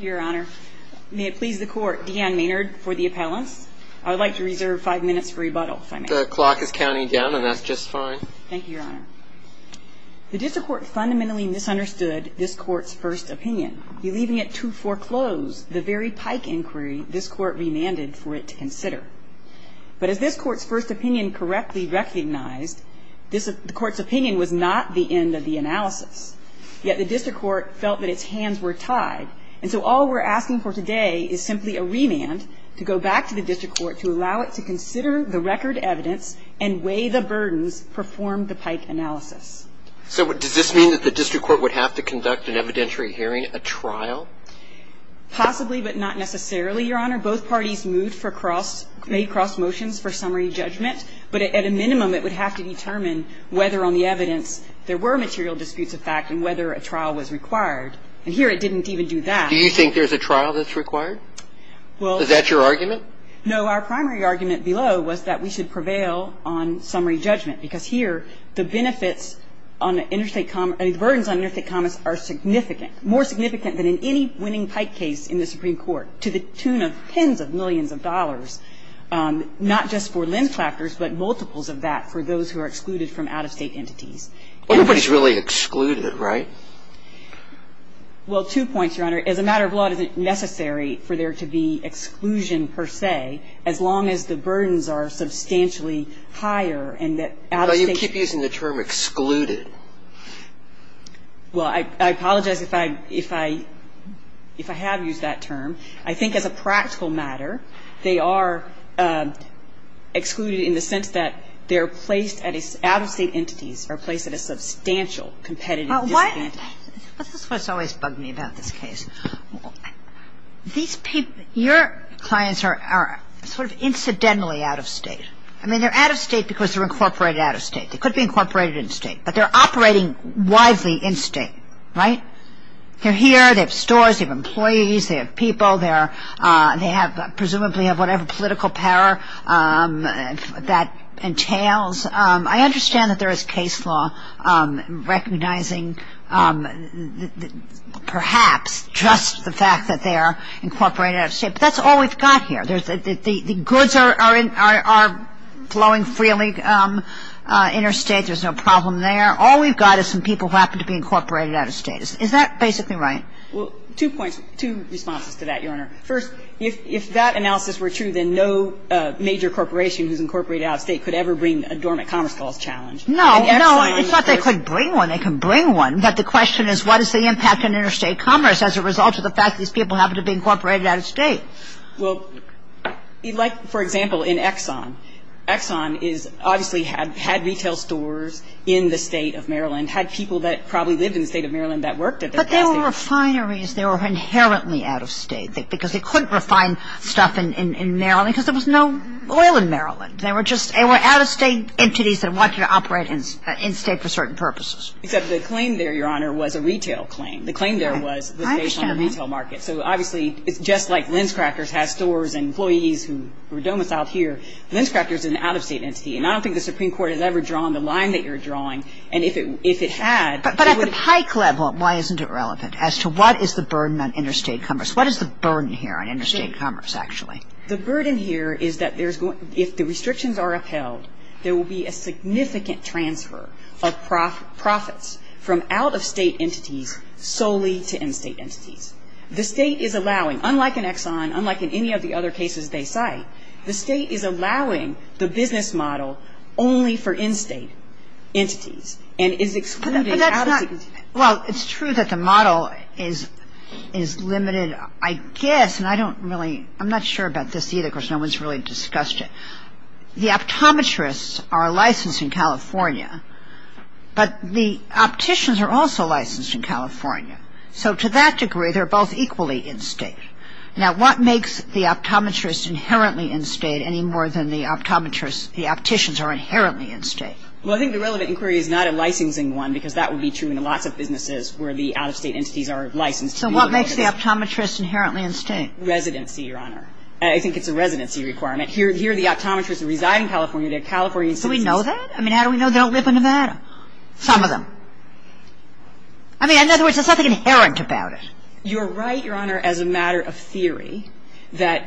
May it please the Court, Deanne Maynard for the appellants. I would like to reserve five minutes for rebuttal if I may. The clock is counting down and that's just fine. Thank you, Your Honor. The District Court fundamentally misunderstood this Court's first opinion, believing it to foreclose the very Pike inquiry this Court remanded for it to consider. But as this Court's first opinion correctly recognized, the Court's opinion was not the end of the analysis. Yet the District Court felt that its hands were tied. And so all we're asking for today is simply a remand to go back to the District Court to allow it to consider the record evidence and weigh the burdens performed the Pike analysis. So does this mean that the District Court would have to conduct an evidentiary hearing, a trial? Possibly, but not necessarily, Your Honor. Both parties moved for cross – made cross motions for summary judgment. But at a minimum, it would have to determine whether on the evidence there were material disputes of fact and whether a trial was required. And here it didn't even do that. Do you think there's a trial that's required? Well – Is that your argument? No. Our primary argument below was that we should prevail on summary judgment, because here the benefits on interstate – the burdens on interstate Well, two points, Your Honor. As a matter of law, it isn't necessary for there to be exclusion, per se, as long as the burdens are substantially higher and that out-of-state Well, you keep using the term excluded. Well, I apologize if I – if I – if I haven't made myself clear. I apologize if I haven't made myself clear. I have used that term. I think as a practical matter, they are excluded in the sense that they're placed at a – out-of-state entities are placed at a substantial competitive disadvantage. This is what's always bugged me about this case. These people – your clients are sort of incidentally out-of-state. I mean, they're out-of-state because they're incorporated out-of-state. They could be incorporated in-state, but they're operating widely in-state, right? They're here. They have stores. They have employees. They have people. They have – presumably have whatever political power that entails. I understand that there is case law recognizing perhaps just the fact that they are incorporated out-of-state, but that's all we've got here. The goods are flowing freely interstate. There's no problem there. All we've got is some people who happen to be incorporated out-of-state. Is that basically right? Well, two points – two responses to that, Your Honor. First, if that analysis were true, then no major corporation who's incorporated out-of-state could ever bring a dormant commerce clause challenge. No, no. It's not they could bring one. They can bring one. But the question is what is the impact on interstate commerce as a result of the fact these people happen to be incorporated out-of-state? Well, like, for example, in Exxon. Exxon is – obviously had retail stores in the State of Maryland, had people that probably lived in the State of Maryland that worked at their – But they were refineries. They were inherently out-of-state because they couldn't refine stuff in Maryland because there was no oil in Maryland. They were just – they were out-of-state entities that wanted to operate in-state for certain purposes. Except the claim there, Your Honor, was a retail claim. I understand that. So, obviously, it's just like Linscrackers has stores and employees who were domiciled here. Linscrackers is an out-of-state entity. And I don't think the Supreme Court has ever drawn the line that you're drawing. And if it had, it would – But at the pike level, why isn't it relevant as to what is the burden on interstate commerce? What is the burden here on interstate commerce, actually? The burden here is that there's – if the restrictions are upheld, there will be a significant transfer of profits from out-of-state entities solely to in-state entities. The State is allowing, unlike in Exxon, unlike in any of the other cases they cite, the State is allowing the business model only for in-state entities and is excluding out-of-state entities. Well, it's true that the model is limited, I guess, and I don't really – I'm not sure about this either because no one's really discussed it. The optometrists are licensed in California, but the opticians are also licensed in California. So to that degree, they're both equally in-state. Now, what makes the optometrists inherently in-state any more than the optometrists – the opticians are inherently in-state? Well, I think the relevant inquiry is not a licensing one because that would be true in lots of businesses where the out-of-state entities are licensed. So what makes the optometrists inherently in-state? Residency, Your Honor. I think it's a residency requirement. Here the optometrists reside in California. They're California citizens. Do we know that? I mean, how do we know they don't live in Nevada? Some of them. I mean, in other words, there's nothing inherent about it. You're right, Your Honor, as a matter of theory, that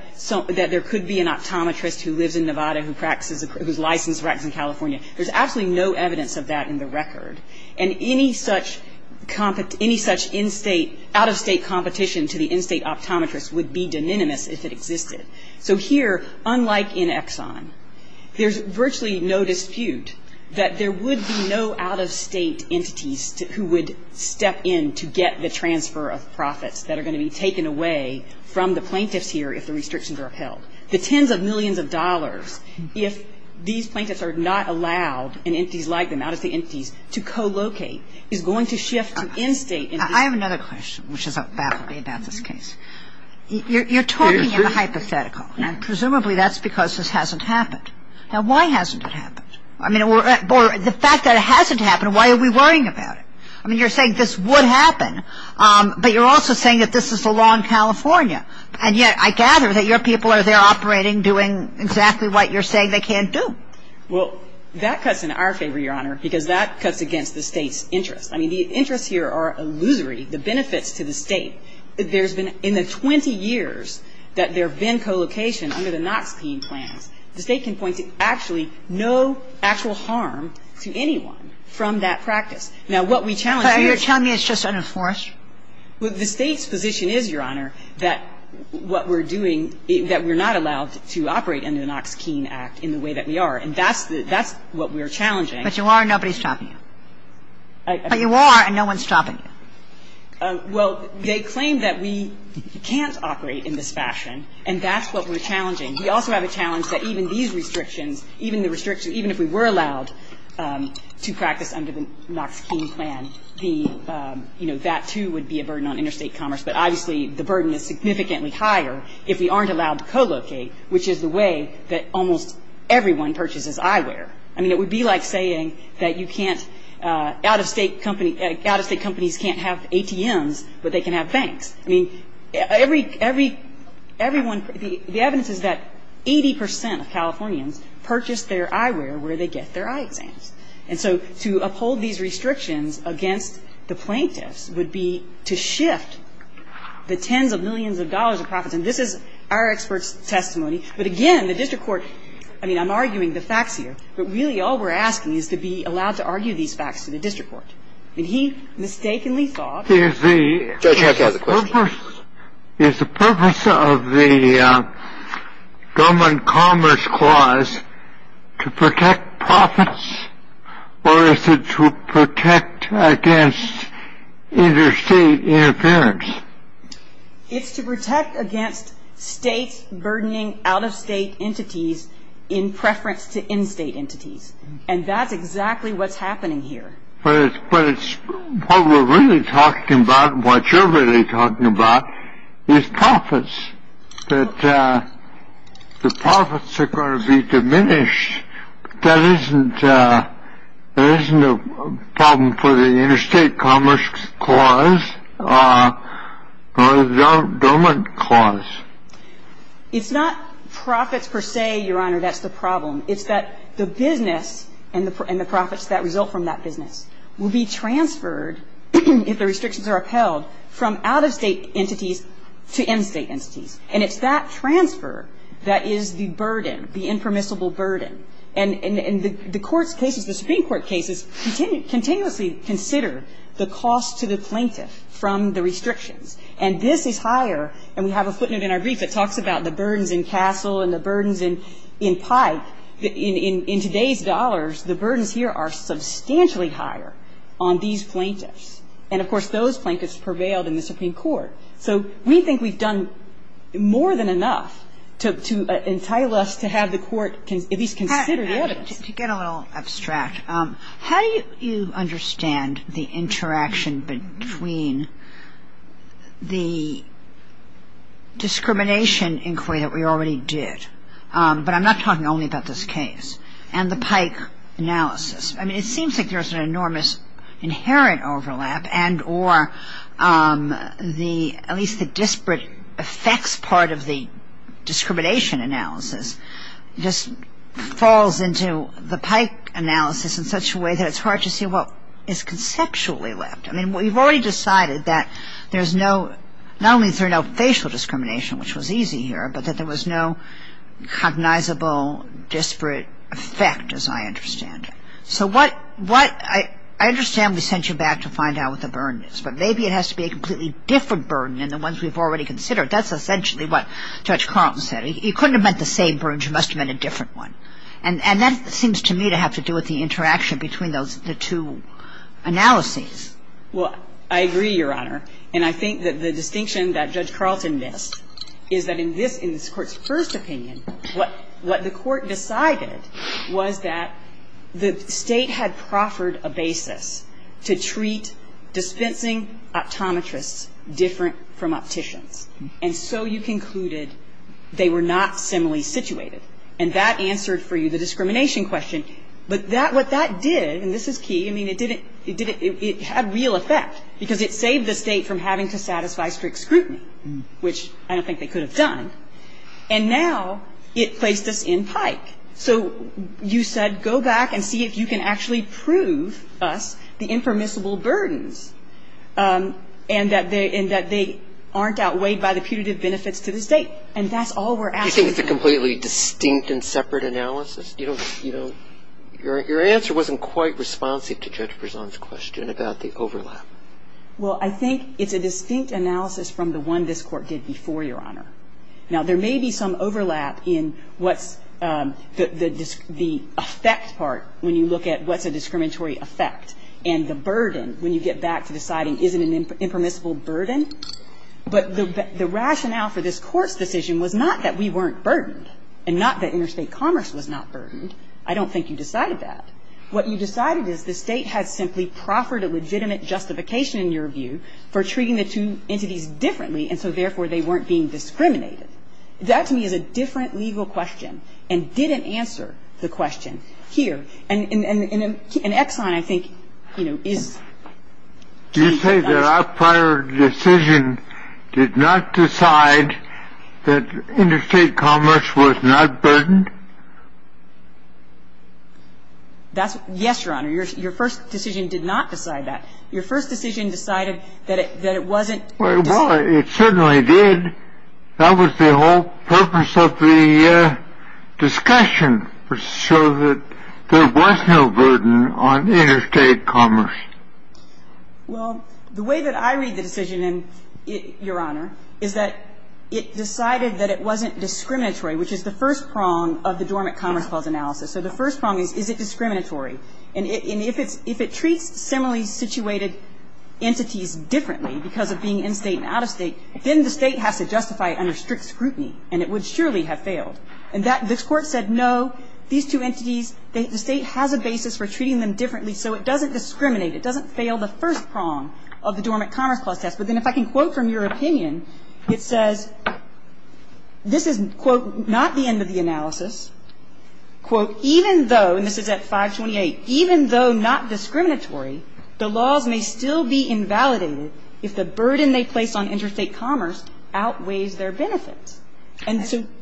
there could be an optometrist who lives in Nevada who practices – who's licensed, practices in California. There's absolutely no evidence of that in the record. And any such in-state – out-of-state competition to the in-state optometrists would be de minimis if it existed. So here, unlike in Exxon, there's virtually no dispute that there would be no out-of-state entities who would step in to get the transfer of profits that are going to be taken away from the plaintiffs here if the restrictions are upheld. The tens of millions of dollars, if these plaintiffs are not allowed, and entities like them, out-of-state entities, to co-locate, is going to shift to in-state entities. I have another question, which is baffling about this case. You're talking in the hypothetical, and presumably that's because this hasn't happened. Now, why hasn't it happened? I mean, the fact that it hasn't happened, why are we worrying about it? I mean, you're saying this would happen, but you're also saying that this is the law in California. And yet, I gather that your people are there operating, doing exactly what you're saying they can't do. Well, that cuts in our favor, Your Honor, because that cuts against the State's interests. I mean, the interests here are illusory. The benefits to the State, there's been – in the 20 years that there have been co-location under the Knox-Keene plans, the State can point to actually no actual harm to anyone from that practice. Now, what we challenge here is the State's position is, Your Honor, that what we're doing, that we're not allowed to operate under the Knox-Keene Act in the way that we are, and that's the – that's what we're challenging. But you are, and nobody's stopping you. But you are, and no one's stopping you. Well, they claim that we can't operate in this fashion, and that's what we're challenging. We also have a challenge that even these restrictions, even the restrictions – even if we were allowed to practice under the Knox-Keene plan, the – you know, that, too, would be a burden on interstate commerce. But obviously, the burden is significantly higher if we aren't allowed to co-locate, which is the way that almost everyone purchases eyewear. I mean, it would be like saying that you can't – out-of-state company – out-of-state companies can't have ATMs, but they can have banks. I mean, every – everyone – the evidence is that 80 percent of Californians purchase their eyewear where they get their eye exams. And so to uphold these restrictions against the plaintiffs would be to shift the tens of millions of dollars of profits. And this is our expert's testimony. But again, the district court – I mean, I'm arguing the facts here, but really all we're asking is to be allowed to argue these facts to the district court. And he mistakenly thought –– Is the purpose of the government commerce clause to protect profits, or is it to protect against interstate interference? It's to protect against states burdening out-of-state entities in preference to in-state entities. And that's exactly what's happening here. But it's – what we're really talking about and what you're really talking about is profits, that the profits are going to be diminished. That isn't a problem for the interstate commerce clause or the government clause. It's not profits per se, Your Honor, that's the problem. It's that the business and the profits that result from that business will be transferred if the restrictions are upheld from out-of-state entities to in-state entities. And it's that transfer that is the burden, the impermissible burden. And the court's cases, the Supreme Court cases, continuously consider the cost to the plaintiff from the restrictions. And this is higher – and we have a footnote in our brief that talks about the burdens in Castle and the burdens in Pike. In today's dollars, the burdens here are substantially higher on these plaintiffs. And, of course, those plaintiffs prevailed in the Supreme Court. So we think we've done more than enough to entail us to have the court at least consider the evidence. To get a little abstract, how do you understand the interaction between the discrimination inquiry that we already did – but I'm not talking only about this case – and the Pike analysis? I mean, it seems like there's an enormous inherent overlap and or at least the disparate effects part of the discrimination analysis just falls into the Pike analysis in such a way that it's hard to see what is conceptually left. I mean, we've already decided that there's no – not only is there no facial discrimination, which was easy here, but that there was no cognizable disparate effect, as I understand it. So what – I understand we sent you back to find out what the burden is, but maybe it has to be a completely different burden than the ones we've already considered. That's essentially what Judge Carlton said. You couldn't have meant the same burden. You must have meant a different one. And that seems to me to have to do with the interaction between those – the two analyses. Well, I agree, Your Honor. And I think that the distinction that Judge Carlton missed is that in this – in this Court's first opinion, what the Court decided was that the State had proffered a basis to treat dispensing optometrists different from opticians. And so you concluded they were not similarly situated. And that answered for you the discrimination question. But that – what that did, and this is key, I mean, it didn't – it didn't – it had real effect because it saved the State from having to satisfy strict scrutiny, which I don't think they could have done. And now it placed us in pike. So you said go back and see if you can actually prove us the impermissible burdens and that they aren't outweighed by the putative benefits to the State. And that's all we're asking. Do you think it's a completely distinct and separate analysis? You don't – your answer wasn't quite responsive to Judge Prezon's question about the overlap. Well, I think it's a distinct analysis from the one this Court did before, Your Honor. Now, there may be some overlap in what's the effect part when you look at what's a discriminatory effect and the burden when you get back to deciding is it an impermissible burden. But the rationale for this Court's decision was not that we weren't burdened and not that interstate commerce was not burdened. I don't think you decided that. What you decided is the State had simply proffered a legitimate justification, in your view, for treating the two entities differently, and so therefore they weren't being discriminated. That, to me, is a different legal question and didn't answer the question here. And Exxon, I think, you know, is – Did you say that our prior decision did not decide that interstate commerce was not burdened? Yes, Your Honor. Your first decision did not decide that. Your first decision decided that it wasn't – Well, it certainly did. That was the whole purpose of the discussion, to show that there was no burden on interstate commerce. Well, the way that I read the decision, Your Honor, is that it decided that it wasn't discriminatory, which is the first prong of the Dormant Commerce Clause analysis. So the first prong is, is it discriminatory? And if it treats similarly situated entities differently because of being in-state and out-of-state, then the State has to justify it under strict scrutiny, and it would surely have failed. And this Court said, no, these two entities, the State has a basis for treating them differently, so it doesn't discriminate. It doesn't fail the first prong of the Dormant Commerce Clause test. But then if I can quote from your opinion, it says, this is, quote, not the end of the analysis. Quote, even though – and this is at 528 – even though not discriminatory, the laws may still be invalidated if the burden they place on interstate commerce outweighs their benefits. And so –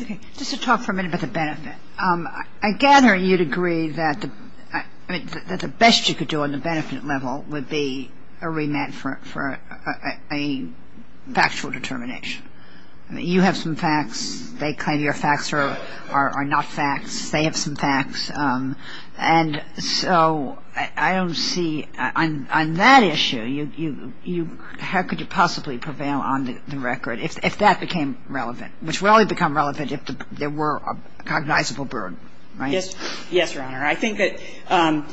Okay. Just to talk for a minute about the benefit. I gather you'd agree that the best you could do on the benefit level would be a remand for a factual determination. You have some facts. They claim your facts are not facts. They have some facts. And so I don't see – on that issue, you – how could you possibly prevail on the record if that became relevant, which would only become relevant if there were a cognizable burden, right? Yes, Your Honor. I think that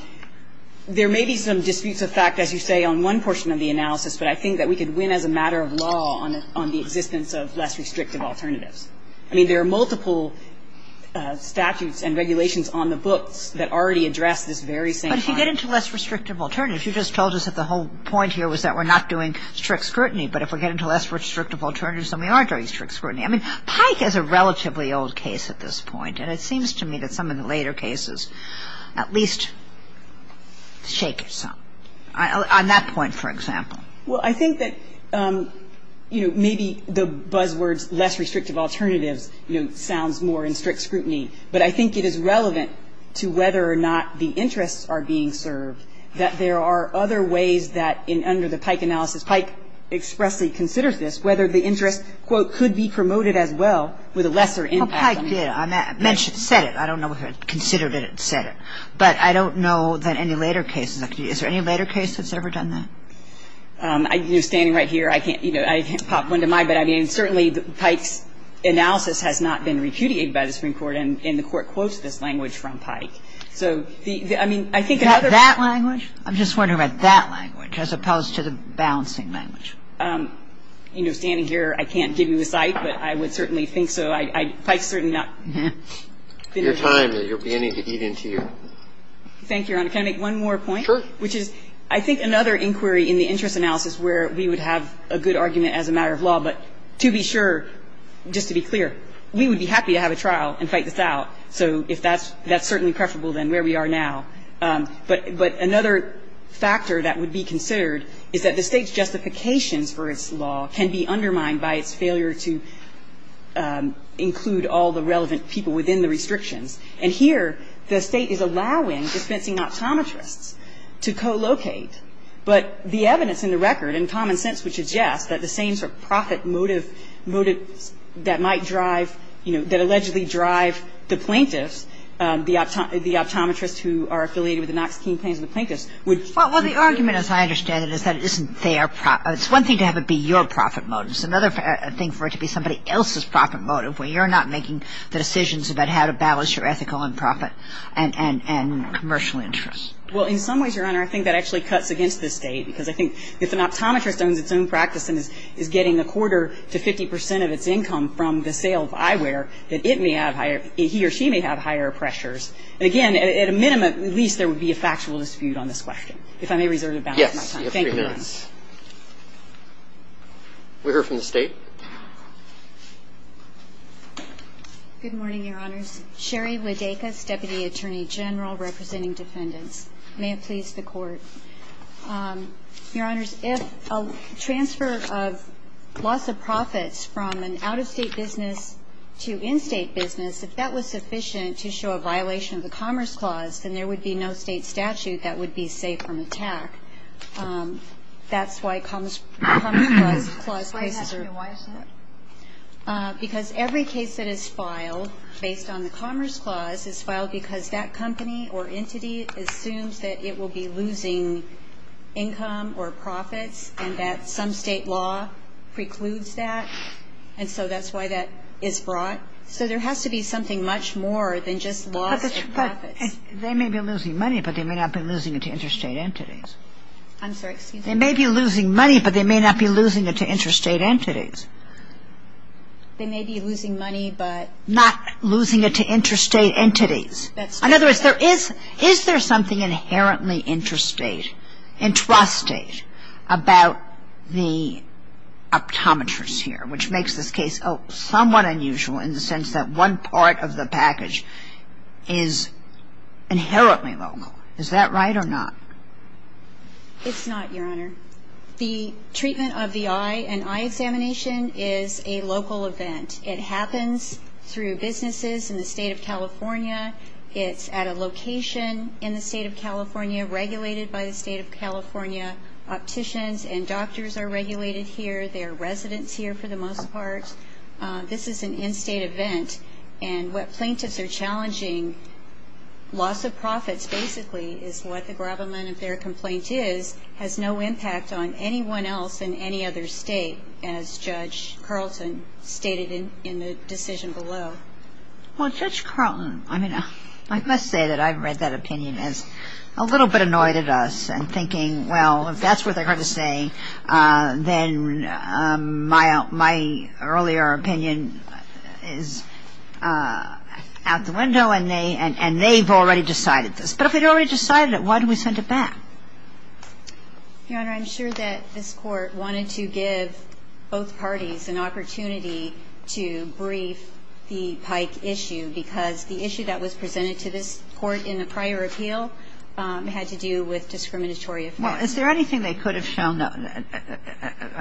there may be some disputes of fact, as you say, on one portion of the analysis, but I think that we could win as a matter of law on the existence of less restrictive alternatives. I mean, there are multiple statutes and regulations on the books that already address this very same point. But if you get into less restrictive alternatives, you just told us that the whole point here was that we're not doing strict scrutiny. But if we get into less restrictive alternatives, then we are doing strict scrutiny. I mean, Pike has a relatively old case at this point, and it seems to me that some of the later cases at least shake it some, on that point, for example. Well, I think that, you know, maybe the buzzwords, less restrictive alternatives, you know, sounds more in strict scrutiny. But I think it is relevant to whether or not the interests are being served, that there are other ways that in – under the Pike analysis, Pike expressly considers this, whether the interest, quote, could be promoted as well with a lesser impact on it. Well, Pike did. I mentioned – said it. I don't know if it considered it and said it. But I don't know that any later cases – is there any later case that's ever done that? I'm standing right here. I can't – you know, I can't pop one to my bed. I mean, certainly, Pike's analysis has not been repudiated by the Supreme Court, and the Court quotes this language from Pike. So I mean, I think another point of view... Is that that language? I'm just wondering about that language, as opposed to the balancing language. You know, standing here, I can't give you a site, but I would certainly think so. I – Pike's certainly not... Your time, but you're beginning to eat into your... Thank you, Your Honor. Can I make one more point? Which is, I think, another inquiry in the interest analysis where we would have a good argument as a matter of law. But to be sure, just to be clear, we would be happy to have a trial and fight this out. So if that's – that's certainly preferable than where we are now. But another factor that would be considered is that the State's justifications for its law can be undermined by its failure to include all the relevant people within the restrictions. And here, the State is allowing dispensing optometrists to co-locate. But the evidence in the record, in common sense, would suggest that the same sort of profit motive that might drive – you know, that allegedly drive the plaintiffs, the optometrists who are affiliated with the Knox-King Plains and the plaintiffs, would... Well, the argument, as I understand it, is that it isn't their – it's one thing to have it be your profit motive. It's another thing for it to be somebody else's profit motive, where you're not making the decisions about how to balance your ethical and profit and commercial interests. Well, in some ways, Your Honor, I think that actually cuts against the State, because I think if an optometrist owns its own practice and is getting a quarter to 50 percent of its income from the sale of eyewear, that it may have higher – he or she may have higher pressures. And again, at a minimum, at least there would be a factual dispute on this question. If I may reserve the balance of my time. Yes. You have three minutes. We hear from the State. Good morning, Your Honors. Sherry Wodeika, Deputy Attorney General representing defendants. May it please the Court. Your Honors, if a transfer of loss of profits from an out-of-state business to in-state business, if that was sufficient to show a violation of the Commerce Clause, then there would be no State statute that would be safe from attack. That's why Commerce Clause cases are – Why is that? Because every case that is filed based on the Commerce Clause is filed because that company or entity assumes that it will be losing income or profits and that some State law precludes that. And so that's why that is brought. They may be losing money, but they may not be losing it to interstate entities. I'm sorry, excuse me. They may be losing money, but they may not be losing it to interstate entities. They may be losing money, but – Not losing it to interstate entities. In other words, there is – is there something inherently interstate, intrastate about the optometrists here, which makes this case somewhat unusual in the sense that one part of the package is inherently local. Is that right or not? It's not, Your Honor. The treatment of the eye, an eye examination, is a local event. It happens through businesses in the State of California. It's at a location in the State of California regulated by the State of California. Opticians and doctors are regulated here. There are residents here for the most part. This is an in-State event. And what plaintiffs are challenging, loss of profits basically, is what the gravamen of their complaint is, has no impact on anyone else in any other State, as Judge Carlton stated in the decision below. Well, Judge Carlton – I mean, I must say that I've read that opinion as a little bit annoyed at us and thinking, well, if that's what they're going to say, then my earlier opinion is out the window and they've already decided this. But if they'd already decided it, why do we send it back? Your Honor, I'm sure that this Court wanted to give both parties an opportunity to brief the Pike issue because the issue that was presented to this Court in the prior appeal had to do with discriminatory effects. Well, is there anything they could have shown,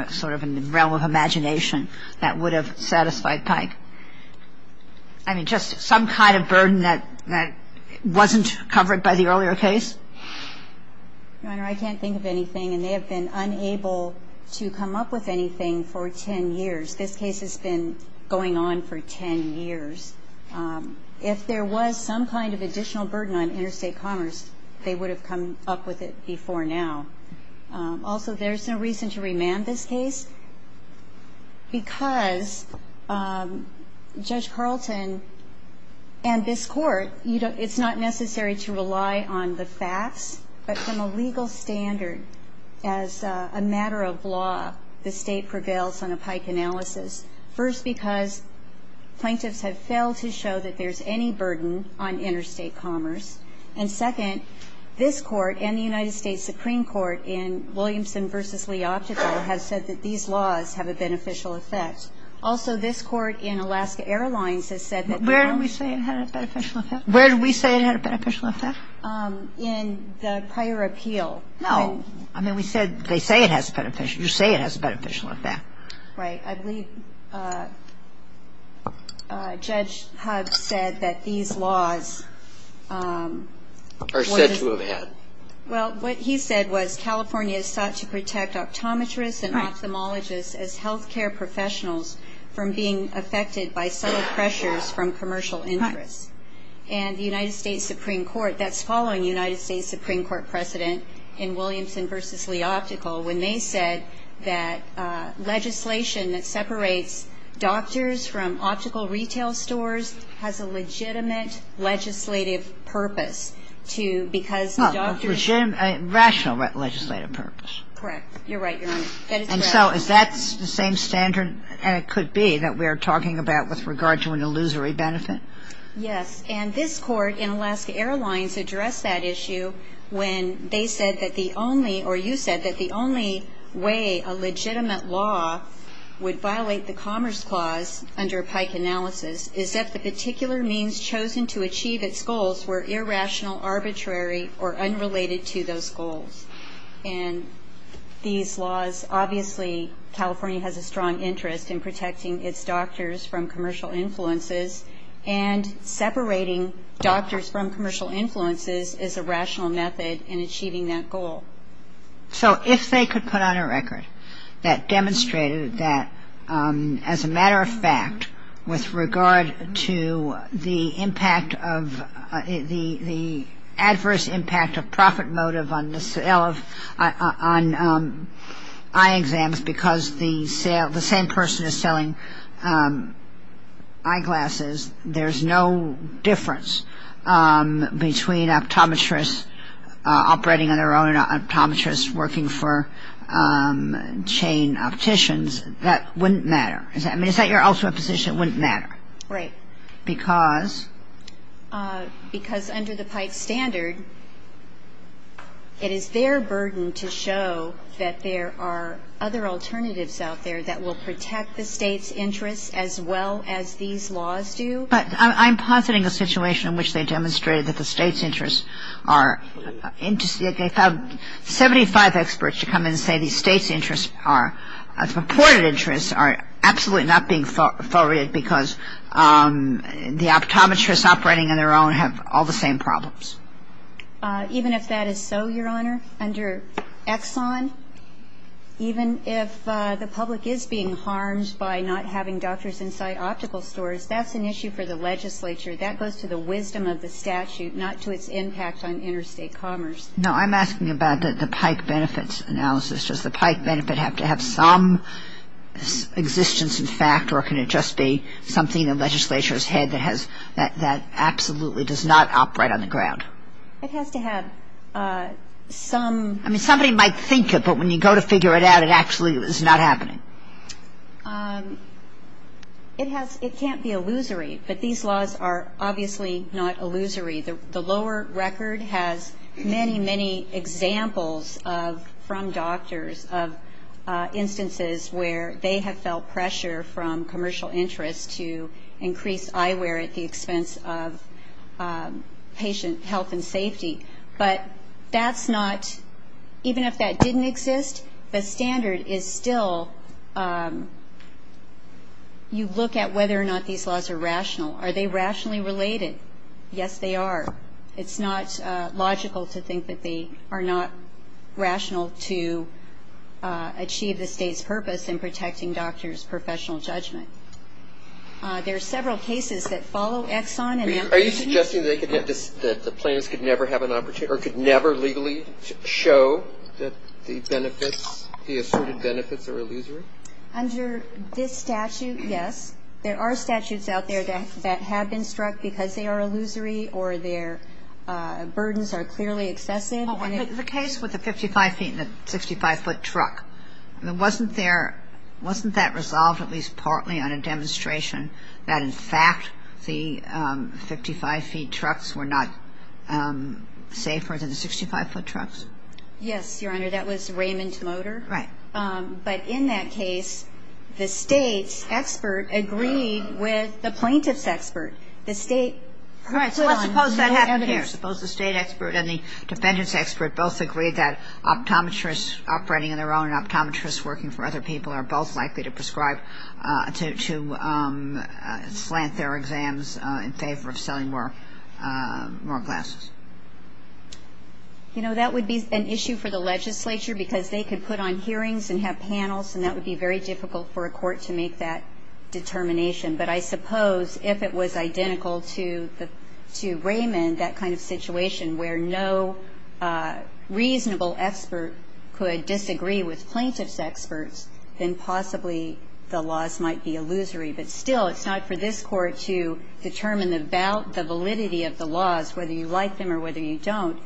sort of in the realm of imagination, that would have satisfied Pike? I mean, just some kind of burden that wasn't covered by the earlier case? Your Honor, I can't think of anything. And they have been unable to come up with anything for 10 years. This case has been going on for 10 years. If there was some kind of additional burden on interstate commerce, they would have come up with it before now. Also, there's no reason to remand this case because Judge Carlton and this Court, it's not necessary to rely on the facts, but from a legal standard, as a matter of law, the State prevails on a Pike analysis. First, because plaintiffs have failed to show that there's any burden on interstate commerce. And second, this Court and the United States Supreme Court in Williamson v. Leoptico have said that these laws have a beneficial effect. Also, this Court in Alaska Airlines has said that the law ---- Where did we say it had a beneficial effect? Where did we say it had a beneficial effect? In the prior appeal. No. I mean, we said they say it has a beneficial effect. You say it has a beneficial effect. Right. I believe Judge Huggs said that these laws ---- Are said to have had. Well, what he said was California is sought to protect optometrists and ophthalmologists as healthcare professionals from being affected by subtle pressures from commercial interests. And the United States Supreme Court, that's following the United States Supreme Court precedent in Williamson v. Leoptico, when they said that legislation that separates doctors from optical retail stores has a legitimate legislative purpose to ---- A rational legislative purpose. Correct. You're right, Your Honor. And so is that the same standard, and it could be, that we are talking about with regard to an illusory benefit? Yes. And this Court in Alaska Airlines addressed that issue when they said that the only or you said that the only way a legitimate law would violate the Commerce Clause under Pike analysis is if the particular means chosen to achieve its goals were irrational, arbitrary, or unrelated to those goals. And these laws, obviously, California has a strong interest in protecting its doctors from commercial influences, and separating doctors from commercial influences is a rational method in achieving that goal. So if they could put on a record that demonstrated that, as a matter of fact, with regard to the impact of the adverse impact of profit motive on the sale of, on eye exams because the same person is selling eyeglasses, there's no difference between optometrists operating on their own and optometrists working for chain opticians, that wouldn't matter. I mean, is that your ultimate position, it wouldn't matter? Right. Because? Because under the Pike standard, it is their burden to show that there are other alternatives out there that will protect the State's interests as well as these laws do. But I'm positing a situation in which they demonstrated that the State's interests are, they found 75 experts to come in and say the State's interests are, the purported interests are absolutely not being forwarded because the optometrists operating on their own have all the same problems. Even if that is so, Your Honor, under Exxon, even if the public is being harmed by not having doctors inside optical stores, that's an issue for the legislature. That goes to the wisdom of the statute, not to its impact on interstate commerce. No, I'm asking about the Pike benefits analysis. Does the Pike benefit have to have some existence in fact or can it just be something the legislature has had that has, that absolutely does not operate on the ground? It has to have some. I mean, somebody might think it, but when you go to figure it out, it actually is not happening. It has, it can't be illusory, but these laws are obviously not illusory. The lower record has many, many examples of, from doctors, of instances where they have felt pressure from commercial interests to increase eyewear at the expense of patient health and safety. But that's not, even if that didn't exist, the standard is still, you look at whether or not these laws are rational. Are they rationally related? Yes, they are. It's not logical to think that they are not rational to achieve the State's purpose in protecting doctors' professional judgment. There are several cases that follow Exxon and Amnesty. Are you suggesting that the plaintiffs could never have an opportunity or could never legally show that the benefits, the asserted benefits are illusory? Under this statute, yes. There are statutes out there that have been struck because they are illusory or their burdens are clearly excessive. The case with the 55 feet and the 65-foot truck, wasn't there, wasn't that resolved at least partly on a demonstration that, in fact, the 55-feet trucks were not safer than the 65-foot trucks? Yes, Your Honor. That was Raymond Motor. Right. But in that case, the State's expert agreed with the plaintiff's expert. The State put on no evidence. Right. So let's suppose that happened here. Suppose the State expert and the defendant's expert both agreed that optometrists operating on their own and optometrists working for other people are both likely to prescribe, to slant their exams in favor of selling more glasses. You know, that would be an issue for the legislature because they could put on hearings and have panels, and that would be very difficult for a court to make that determination. But I suppose if it was identical to Raymond, that kind of situation where no reasonable expert could disagree with plaintiff's experts, then possibly the laws might be illusory. But still, it's not for this Court to determine the validity of the laws, whether you like them or whether you don't.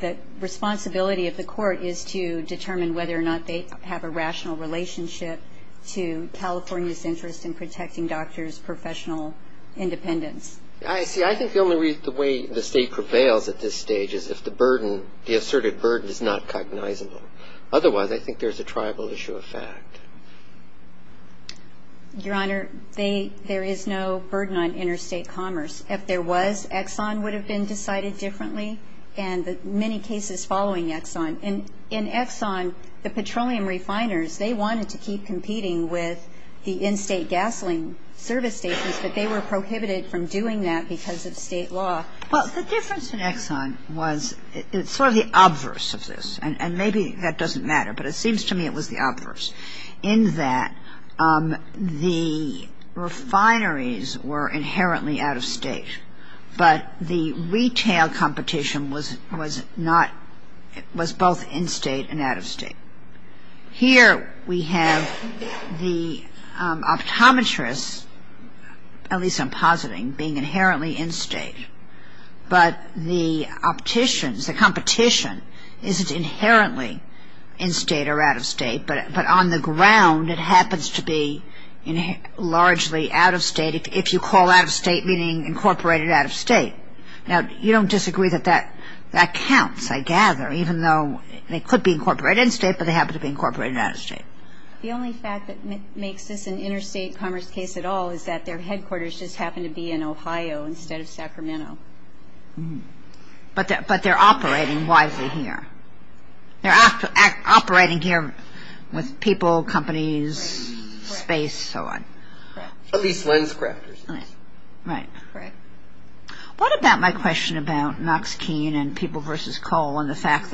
The responsibility of the Court is to determine whether or not they have a rational relationship to California's interest in protecting doctors' professional independence. I see. I think the only way the State prevails at this stage is if the burden, the asserted burden is not cognizable. Otherwise, I think there's a tribal issue of fact. Your Honor, there is no burden on interstate commerce. If there was, Exxon would have been decided differently, and many cases following Exxon. In Exxon, the petroleum refiners, they wanted to keep competing with the in-state gasoline service stations, but they were prohibited from doing that because of State law. Well, the difference in Exxon was it's sort of the obverse of this, and maybe that doesn't matter, but it seems to me it was the obverse, in that the refineries were inherently out-of-state. But the retail competition was not, was both in-state and out-of-state. Here we have the optometrists, at least I'm positing, being inherently in-state. But the opticians, the competition, isn't inherently in-state or out-of-state, but on the ground, it happens to be largely out-of-state, if you call out-of-state meaning incorporated out-of-state. Now, you don't disagree that that counts, I gather, even though they could be incorporated in-state, but they happen to be incorporated out-of-state. The only fact that makes this an interstate commerce case at all is that their headquarters just happen to be in Ohio instead of Sacramento. But they're operating wisely here. They're operating here with people, companies, space, so on. What about my question about Knox Keene and people versus coal and the fact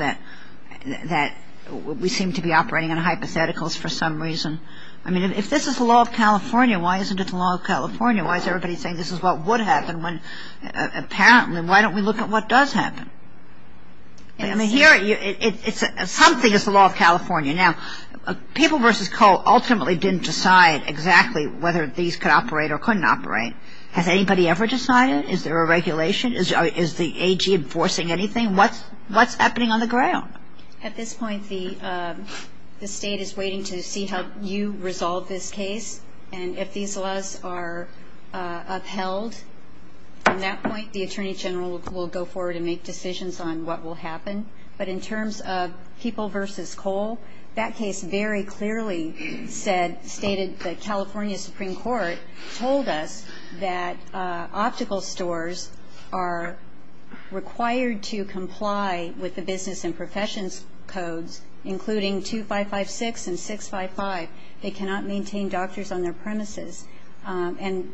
that we seem to be operating on hypotheticals for some reason? I mean, if this is the law of California, why isn't it the law of California? Why is everybody saying this is what would happen when, apparently, why don't we look at what does happen? I mean, here, something is the law of California. Now, people versus coal ultimately didn't decide exactly whether these could operate or couldn't operate. Has anybody ever decided? Is there a regulation? Is the AG enforcing anything? What's happening on the ground? At this point, the state is waiting to see how you resolve this case, and if these laws are upheld, from that point, the Attorney General will go forward and make decisions on what will happen. But in terms of people versus coal, that case very clearly said, stated the California Supreme Court told us that optical stores are required to comply with the business and professions codes, including 2556 and 655. They cannot maintain doctors on their premises. And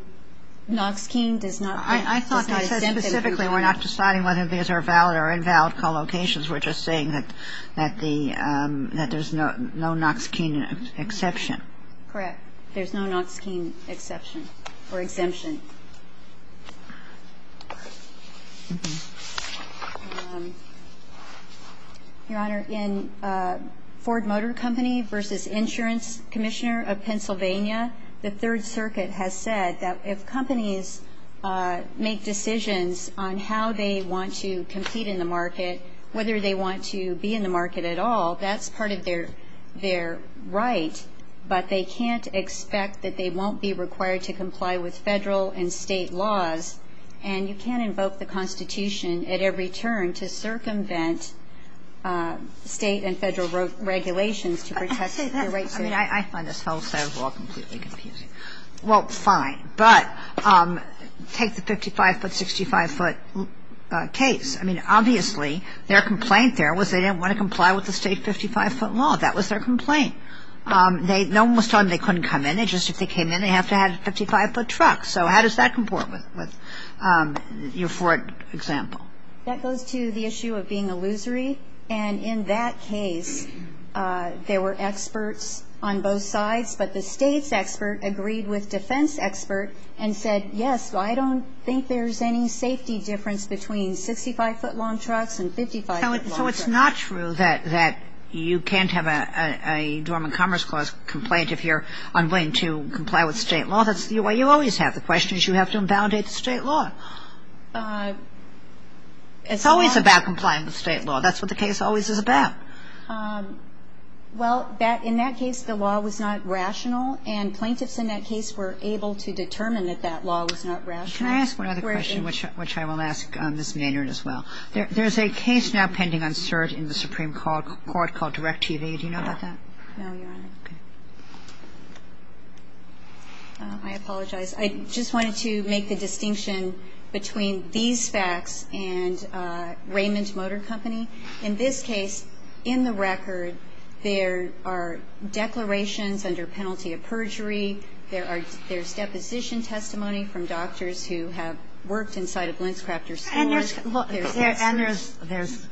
Noxkeen does not exempt them. I thought you said specifically we're not deciding whether these are valid or invalid collocations. We're just saying that the ñ that there's no Noxkeen exception. Correct. There's no Noxkeen exception or exemption. Your Honor, in Ford Motor Company versus Insurance Commissioner of Pennsylvania, the Third Circuit has said that if companies make decisions on how they want to compete in the market, whether they want to be in the market at all, that's part of their ñ their right, but they can't expect that they won't be required to comply with Federal and State laws. And you can't invoke the Constitution at every turn to circumvent State and Federal regulations to protect their rights. I mean, I find this whole set of law completely confusing. Well, fine. But take the 55-foot, 65-foot case. I mean, obviously, their complaint there was they didn't want to comply with the State 55-foot law. That was their complaint. They ñ no one was telling them they couldn't come in. It's just if they came in, they have to have a 55-foot truck. So how does that comport with your Ford example? That goes to the issue of being illusory. And in that case, there were experts on both sides, but the State's expert agreed with defense expert and said, yes, I don't think there's any safety difference between 65-foot-long trucks and 55-foot-long trucks. So it's not true that you can't have a Dormant Commerce Clause complaint if you're unwilling to comply with State law. That's ñ well, you always have. The question is you have to invalidate the State law. It's always about complying with State law. That's what the case always is about. Well, that ñ in that case, the law was not rational, and plaintiffs in that case were able to determine that that law was not rational. Can I ask one other question, which I will ask Ms. Maynard as well? There's a case now pending on cert in the Supreme Court called Direct TV. Do you know about that? No, Your Honor. Okay. I apologize. I just wanted to make the distinction between these facts and Raymond Motor Company. In this case, in the record, there are declarations under penalty of perjury. There are ñ there's deposition testimony from doctors who have worked inside of Linscrafter's stores. And there's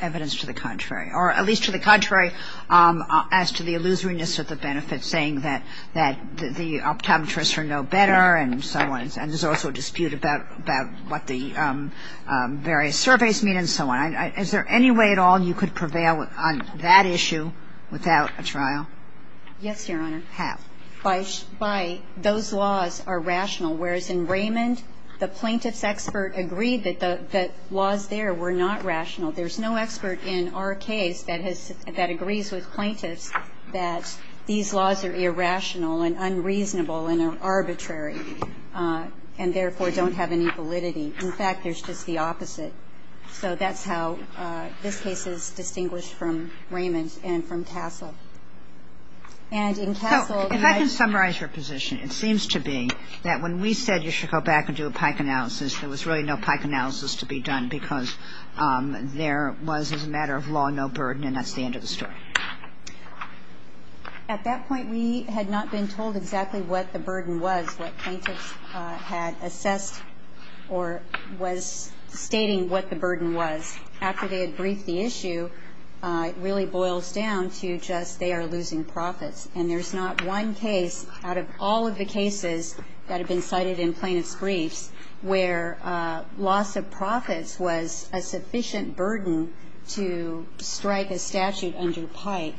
evidence to the contrary, or at least to the contrary as to the illusoriness of the benefits, saying that the optometrists are no better and so on. And there's also a dispute about what the various surveys mean and so on. Is there any way at all you could prevail on that issue without a trial? Yes, Your Honor. How? By those laws are rational, whereas in Raymond, the plaintiff's expert agreed that the laws there were not rational. There's no expert in our case that has ñ that agrees with plaintiffs that these laws are irrational and unreasonable and are arbitrary, and therefore don't have any validity. In fact, there's just the opposite. So that's how this case is distinguished from Raymond and from Castle. And in Castle ñ So if I can summarize your position, it seems to be that when we said you should go back and do a Pike analysis, there was really no Pike analysis to be done because there was, as a matter of law, no burden, and that's the end of the story. At that point, we had not been told exactly what the burden was, what plaintiffs had assessed or was stating what the burden was. After they had briefed the issue, it really boils down to just they are losing profits. And there's not one case out of all of the cases that have been cited in plaintiff's case where loss of profits was a sufficient burden to strike a statute under Pike.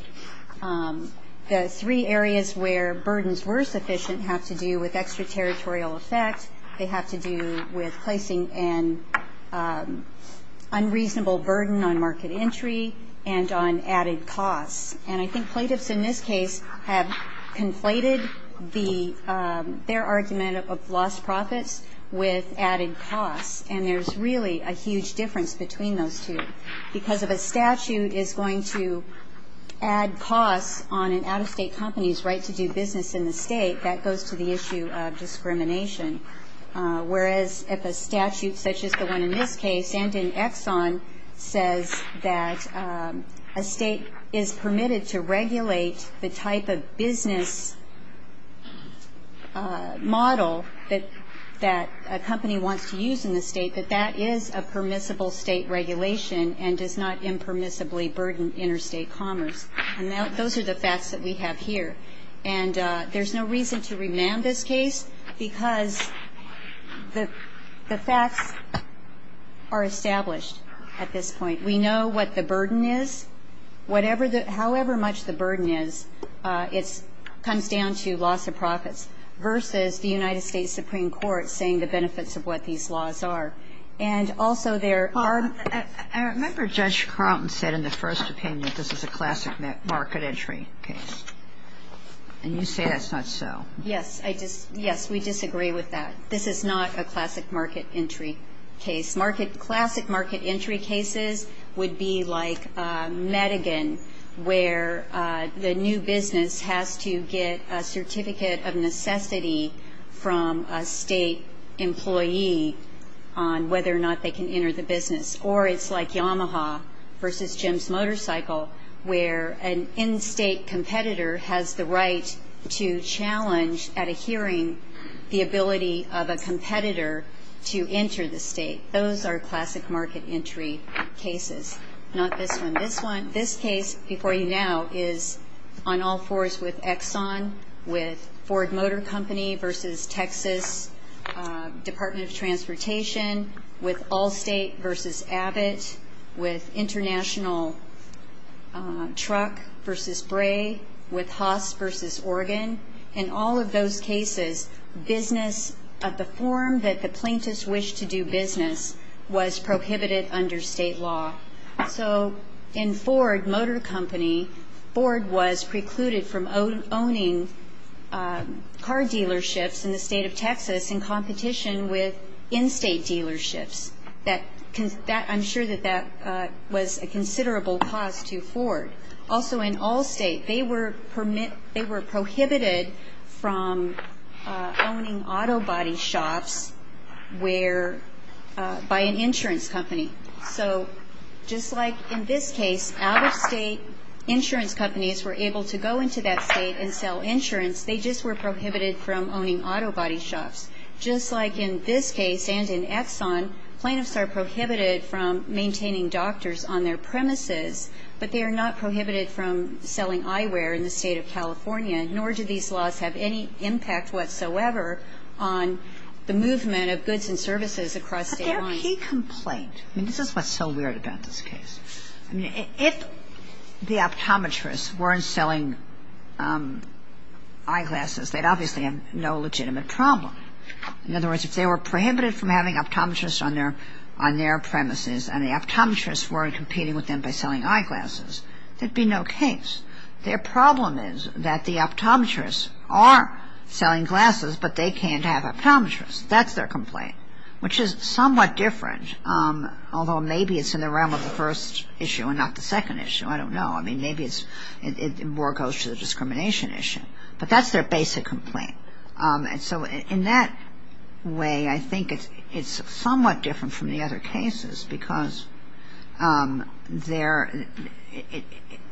The three areas where burdens were sufficient have to do with extraterritorial effect. They have to do with placing an unreasonable burden on market entry and on added costs. And I think plaintiffs in this case have conflated the ñ their argument of lost profits with added costs, and there's really a huge difference between those two. Because if a statute is going to add costs on an out-of-state company's right to do business in the state, that goes to the issue of discrimination, whereas if a statute such as the one in this case and in Exxon says that a state is permitted to regulate the type of business model that ñ that a company wants to use in the state, that that is a permissible state regulation and does not impermissibly burden interstate commerce. And those are the facts that we have here. And there's no reason to remand this case, because the facts are established at this point. We know what the burden is. Whatever the ñ however much the burden is, it's ñ comes down to loss of profits versus the United States Supreme Court saying the benefits of what these laws are. And also there are ñ Kagan. I remember Judge Carlton said in the first opinion that this is a classic market entry case. And you say that's not so. Yes. I just ñ yes. We disagree with that. This is not a classic market entry case. Market ñ classic market entry cases would be like Medigan, where the new business has to get a certificate of necessity from a state employee on whether or not they can enter the business. Or it's like Yamaha versus Jim's Motorcycle, where an in-state competitor has the right to challenge at a hearing the ability of a competitor to enter the state. Those are classic market entry cases, not this one. This one ñ this case before you now is on all fours with Exxon, with Ford Motor Company versus Texas Department of Transportation, with Allstate versus Abbott, with International Truck versus Bray, with Haas versus Oregon. In all of those cases, business of the form that the plaintiffs wish to do business with was prohibited under state law. So in Ford Motor Company, Ford was precluded from owning car dealerships in the state of Texas in competition with in-state dealerships. That ñ I'm sure that that was a considerable cost to Ford. Also, in Allstate, they were ñ they were prohibited from owning auto body shops where ñ by an insurance company. So just like in this case, out-of-state insurance companies were able to go into that state and sell insurance, they just were prohibited from owning auto body shops. Just like in this case and in Exxon, plaintiffs are prohibited from maintaining doctors on their premises, but they are not prohibited from selling eyewear in the state. I mean, if the optometrists weren't selling eyeglasses, they'd obviously have no legitimate problem. In other words, if they were prohibited from having optometrists on their ñ on their premises, and the optometrists weren't competing with them by selling eyeglasses, there'd be no case. Their problem is that the optometrists are selling glasses, but they can't have optometrists. That's their complaint, which is somewhat different, although maybe it's in the realm of the first issue and not the second issue. I don't know. I mean, maybe it's ñ more goes to the discrimination issue. But that's their basic complaint. And so in that way, I think it's somewhat different from the other cases because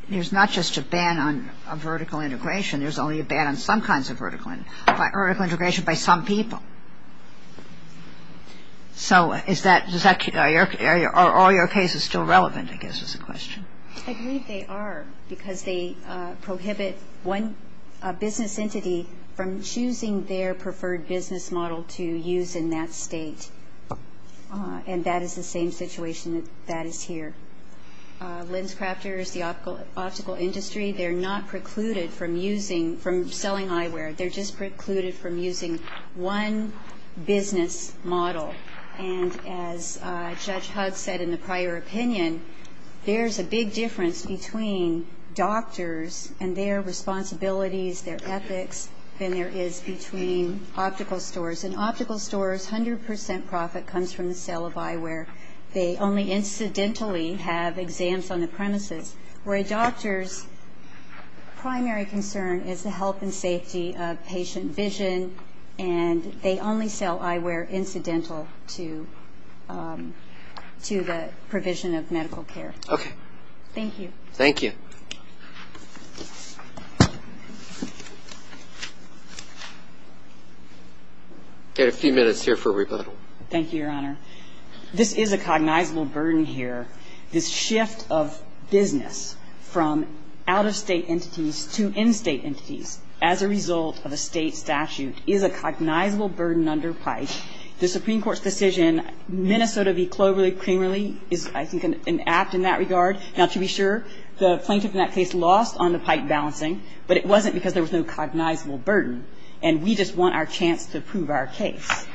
there's not just a ban on vertical integration, there's only a ban on some kinds of vertical ñ vertical integration by some people. So is that ñ are all your cases still relevant, I guess, is the question. I believe they are because they prohibit one business entity from choosing their preferred business model to use in that state. And that is the same situation that is here. LensCrafters, the optical industry, they're not precluded from using ñ from selling business model. And as Judge Huggs said in the prior opinion, there's a big difference between doctors and their responsibilities, their ethics, than there is between optical stores. And optical stores, 100 percent profit comes from the sale of eyewear. They only incidentally have exams on the premises, where a doctor's primary concern is the health and safety of patient vision, and they only sell eyewear incidental to the provision of medical care. Okay. Thank you. I've got a few minutes here for rebuttal. Thank you, Your Honor. This is a cognizable burden here. This shift of business from out-of-state entities to in-state entities as a result of a state statute is a cognizable burden under PIPE. The Supreme Court's decision, Minnesota v. Cloverley, primarily, is, I think, an apt in that regard. Now, to be sure, the plaintiff in that case lost on the PIPE balancing, but it wasn't because there was no cognizable burden, and we just want our chance to prove our case,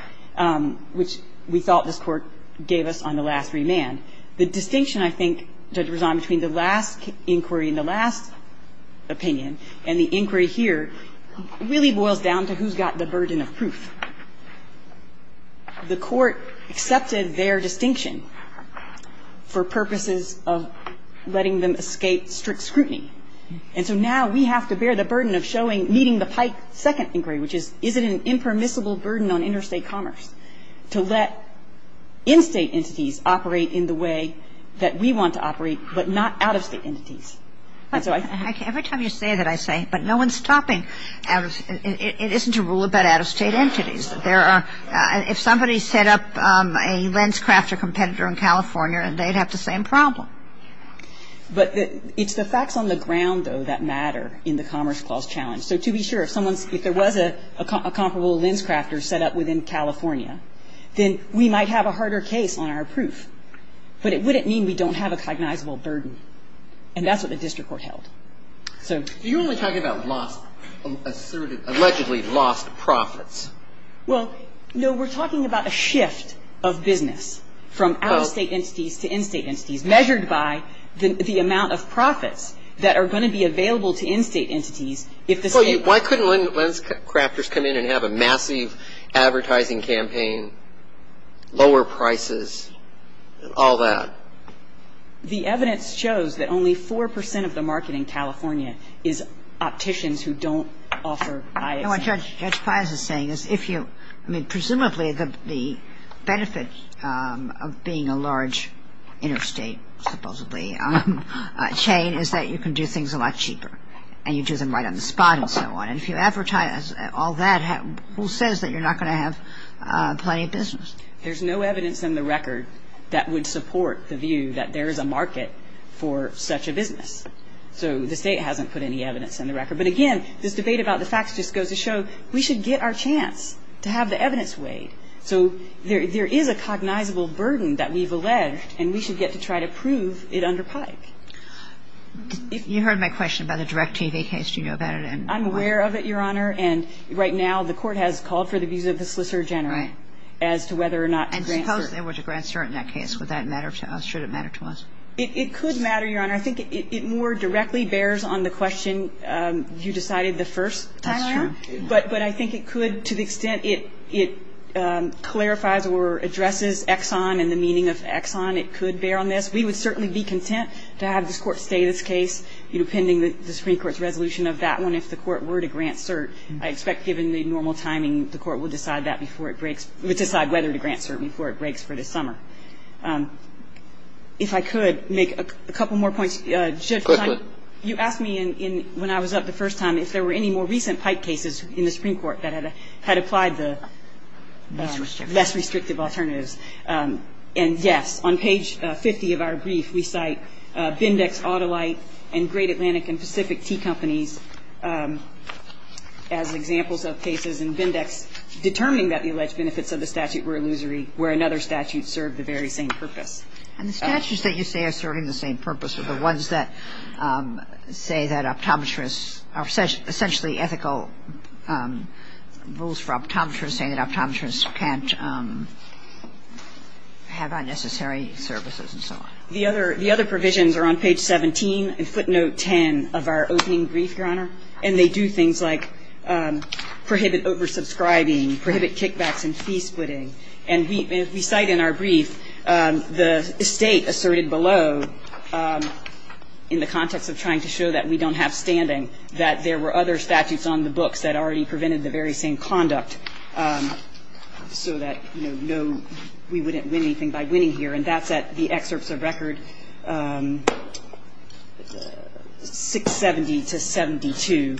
which we thought this Court gave us on the last remand. The distinction, I think, to resign between the last inquiry and the last opinion and the inquiry here really boils down to who's got the burden of proof. The Court accepted their distinction for purposes of letting them escape strict scrutiny, and so now we have to bear the burden of showing, meeting the PIPE second inquiry, which is, is it an impermissible burden on interstate commerce to let in-state entities operate in the way that we want to operate, but not out-of-state entities? And so I think we have to bear that burden. Kagan. But every time you say that, I say, but no one's stopping out-of-state entities. It isn't a rule about out-of-state entities. If somebody set up a LensCrafter competitor in California, they'd have the same problem. But it's the facts on the ground, though, that matter in the Commerce Clause challenge. So to be sure, if someone's – if there was a comparable LensCrafter set up within California, then we might have a harder case on our proof. But it wouldn't mean we don't have a cognizable burden. And that's what the district court held. So – Are you only talking about lost – asserted – allegedly lost profits? Well, no. We're talking about a shift of business from out-of-state entities to in-state entities, measured by the amount of profits that are going to be available to in-state entities if the state – Well, you – why couldn't LensCrafters come in and have a massive advertising campaign, lower prices, all that? The evidence shows that only 4 percent of the market in California is opticians who don't offer ISA. No, what Judge Pius is saying is if you – I mean, presumably, the benefit of being a large interstate, supposedly, chain is that you can do things a lot cheaper. And you do them right on the spot and so on. And if you advertise all that, who says that you're not going to have plenty of business? There's no evidence in the record that would support the view that there is a market for such a business. So the state hasn't put any evidence in the record. But again, this debate about the facts just goes to show we should get our chance to have the evidence weighed. So there is a cognizable burden that we've alleged, and we should get to try to prove it under PIKE. You heard my question about the DirecTV case. Do you know about it? I'm aware of it, Your Honor. And right now the court has called for the abuse of the solicitor general as to whether or not to grant cert. And suppose there were to grant cert in that case. Would that matter to us? Should it matter to us? It could matter, Your Honor. I think it more directly bears on the question you decided the first time around. That's true. But I think it could, to the extent it clarifies or addresses Exxon and the meaning of Exxon, it could bear on this. We would certainly be content to have this court stay this case, you know, pending the Supreme Court's resolution of that one if the court were to grant cert. I expect, given the normal timing, the court would decide that before it breaks or decide whether to grant cert before it breaks for the summer. If I could make a couple more points. Quickly. You asked me when I was up the first time if there were any more recent PIKE cases in the Supreme Court that had applied the less restrictive alternatives. And, yes, on page 50 of our brief, we cite Bindex, Autolite, and Great Atlantic and Pacific Tea Companies as examples of cases in Bindex determining that the alleged benefits of the statute were illusory where another statute served the very same purpose. And the statutes that you say are serving the same purpose are the ones that say that optometrists are essentially ethical rules for optometrists, saying that optometrists can't have unnecessary services and so on. The other provisions are on page 17 in footnote 10 of our opening brief, Your Honor, and they do things like prohibit oversubscribing, prohibit kickbacks and fee splitting. And we cite in our brief the State asserted below, in the context of trying to show that we don't have standing, that there were other statutes on the books that already have a standing, so that, you know, no, we wouldn't win anything by winning here. And that's at the excerpts of record 670 to 72.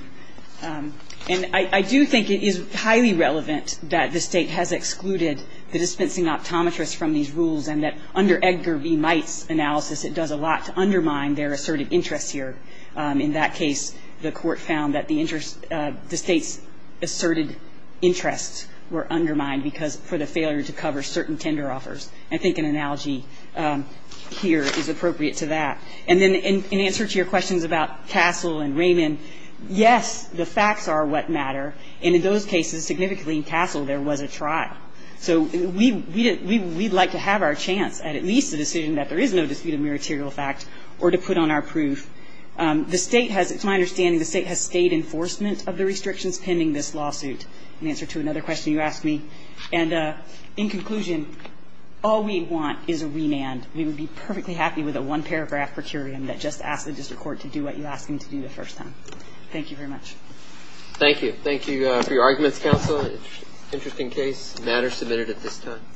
And I do think it is highly relevant that the State has excluded the dispensing optometrists from these rules and that under Edgar B. Might's analysis, it does a lot to undermine their asserted interests here. In that case, the Court found that the State's asserted interests were undermined because for the failure to cover certain tender offers. I think an analogy here is appropriate to that. And then in answer to your questions about Castle and Raymond, yes, the facts are what matter, and in those cases, significantly in Castle, there was a trial. So we'd like to have our chance at at least a decision that there is no dispute or to put on our proof. The State has, it's my understanding, the State has stayed enforcement of the restrictions pending this lawsuit. In answer to another question you asked me. And in conclusion, all we want is a remand. We would be perfectly happy with a one-paragraph per curiam that just asks the District Court to do what you ask them to do the first time. Thank you very much. Thank you. Thank you for your arguments, counsel. Interesting case. Matter submitted at this time.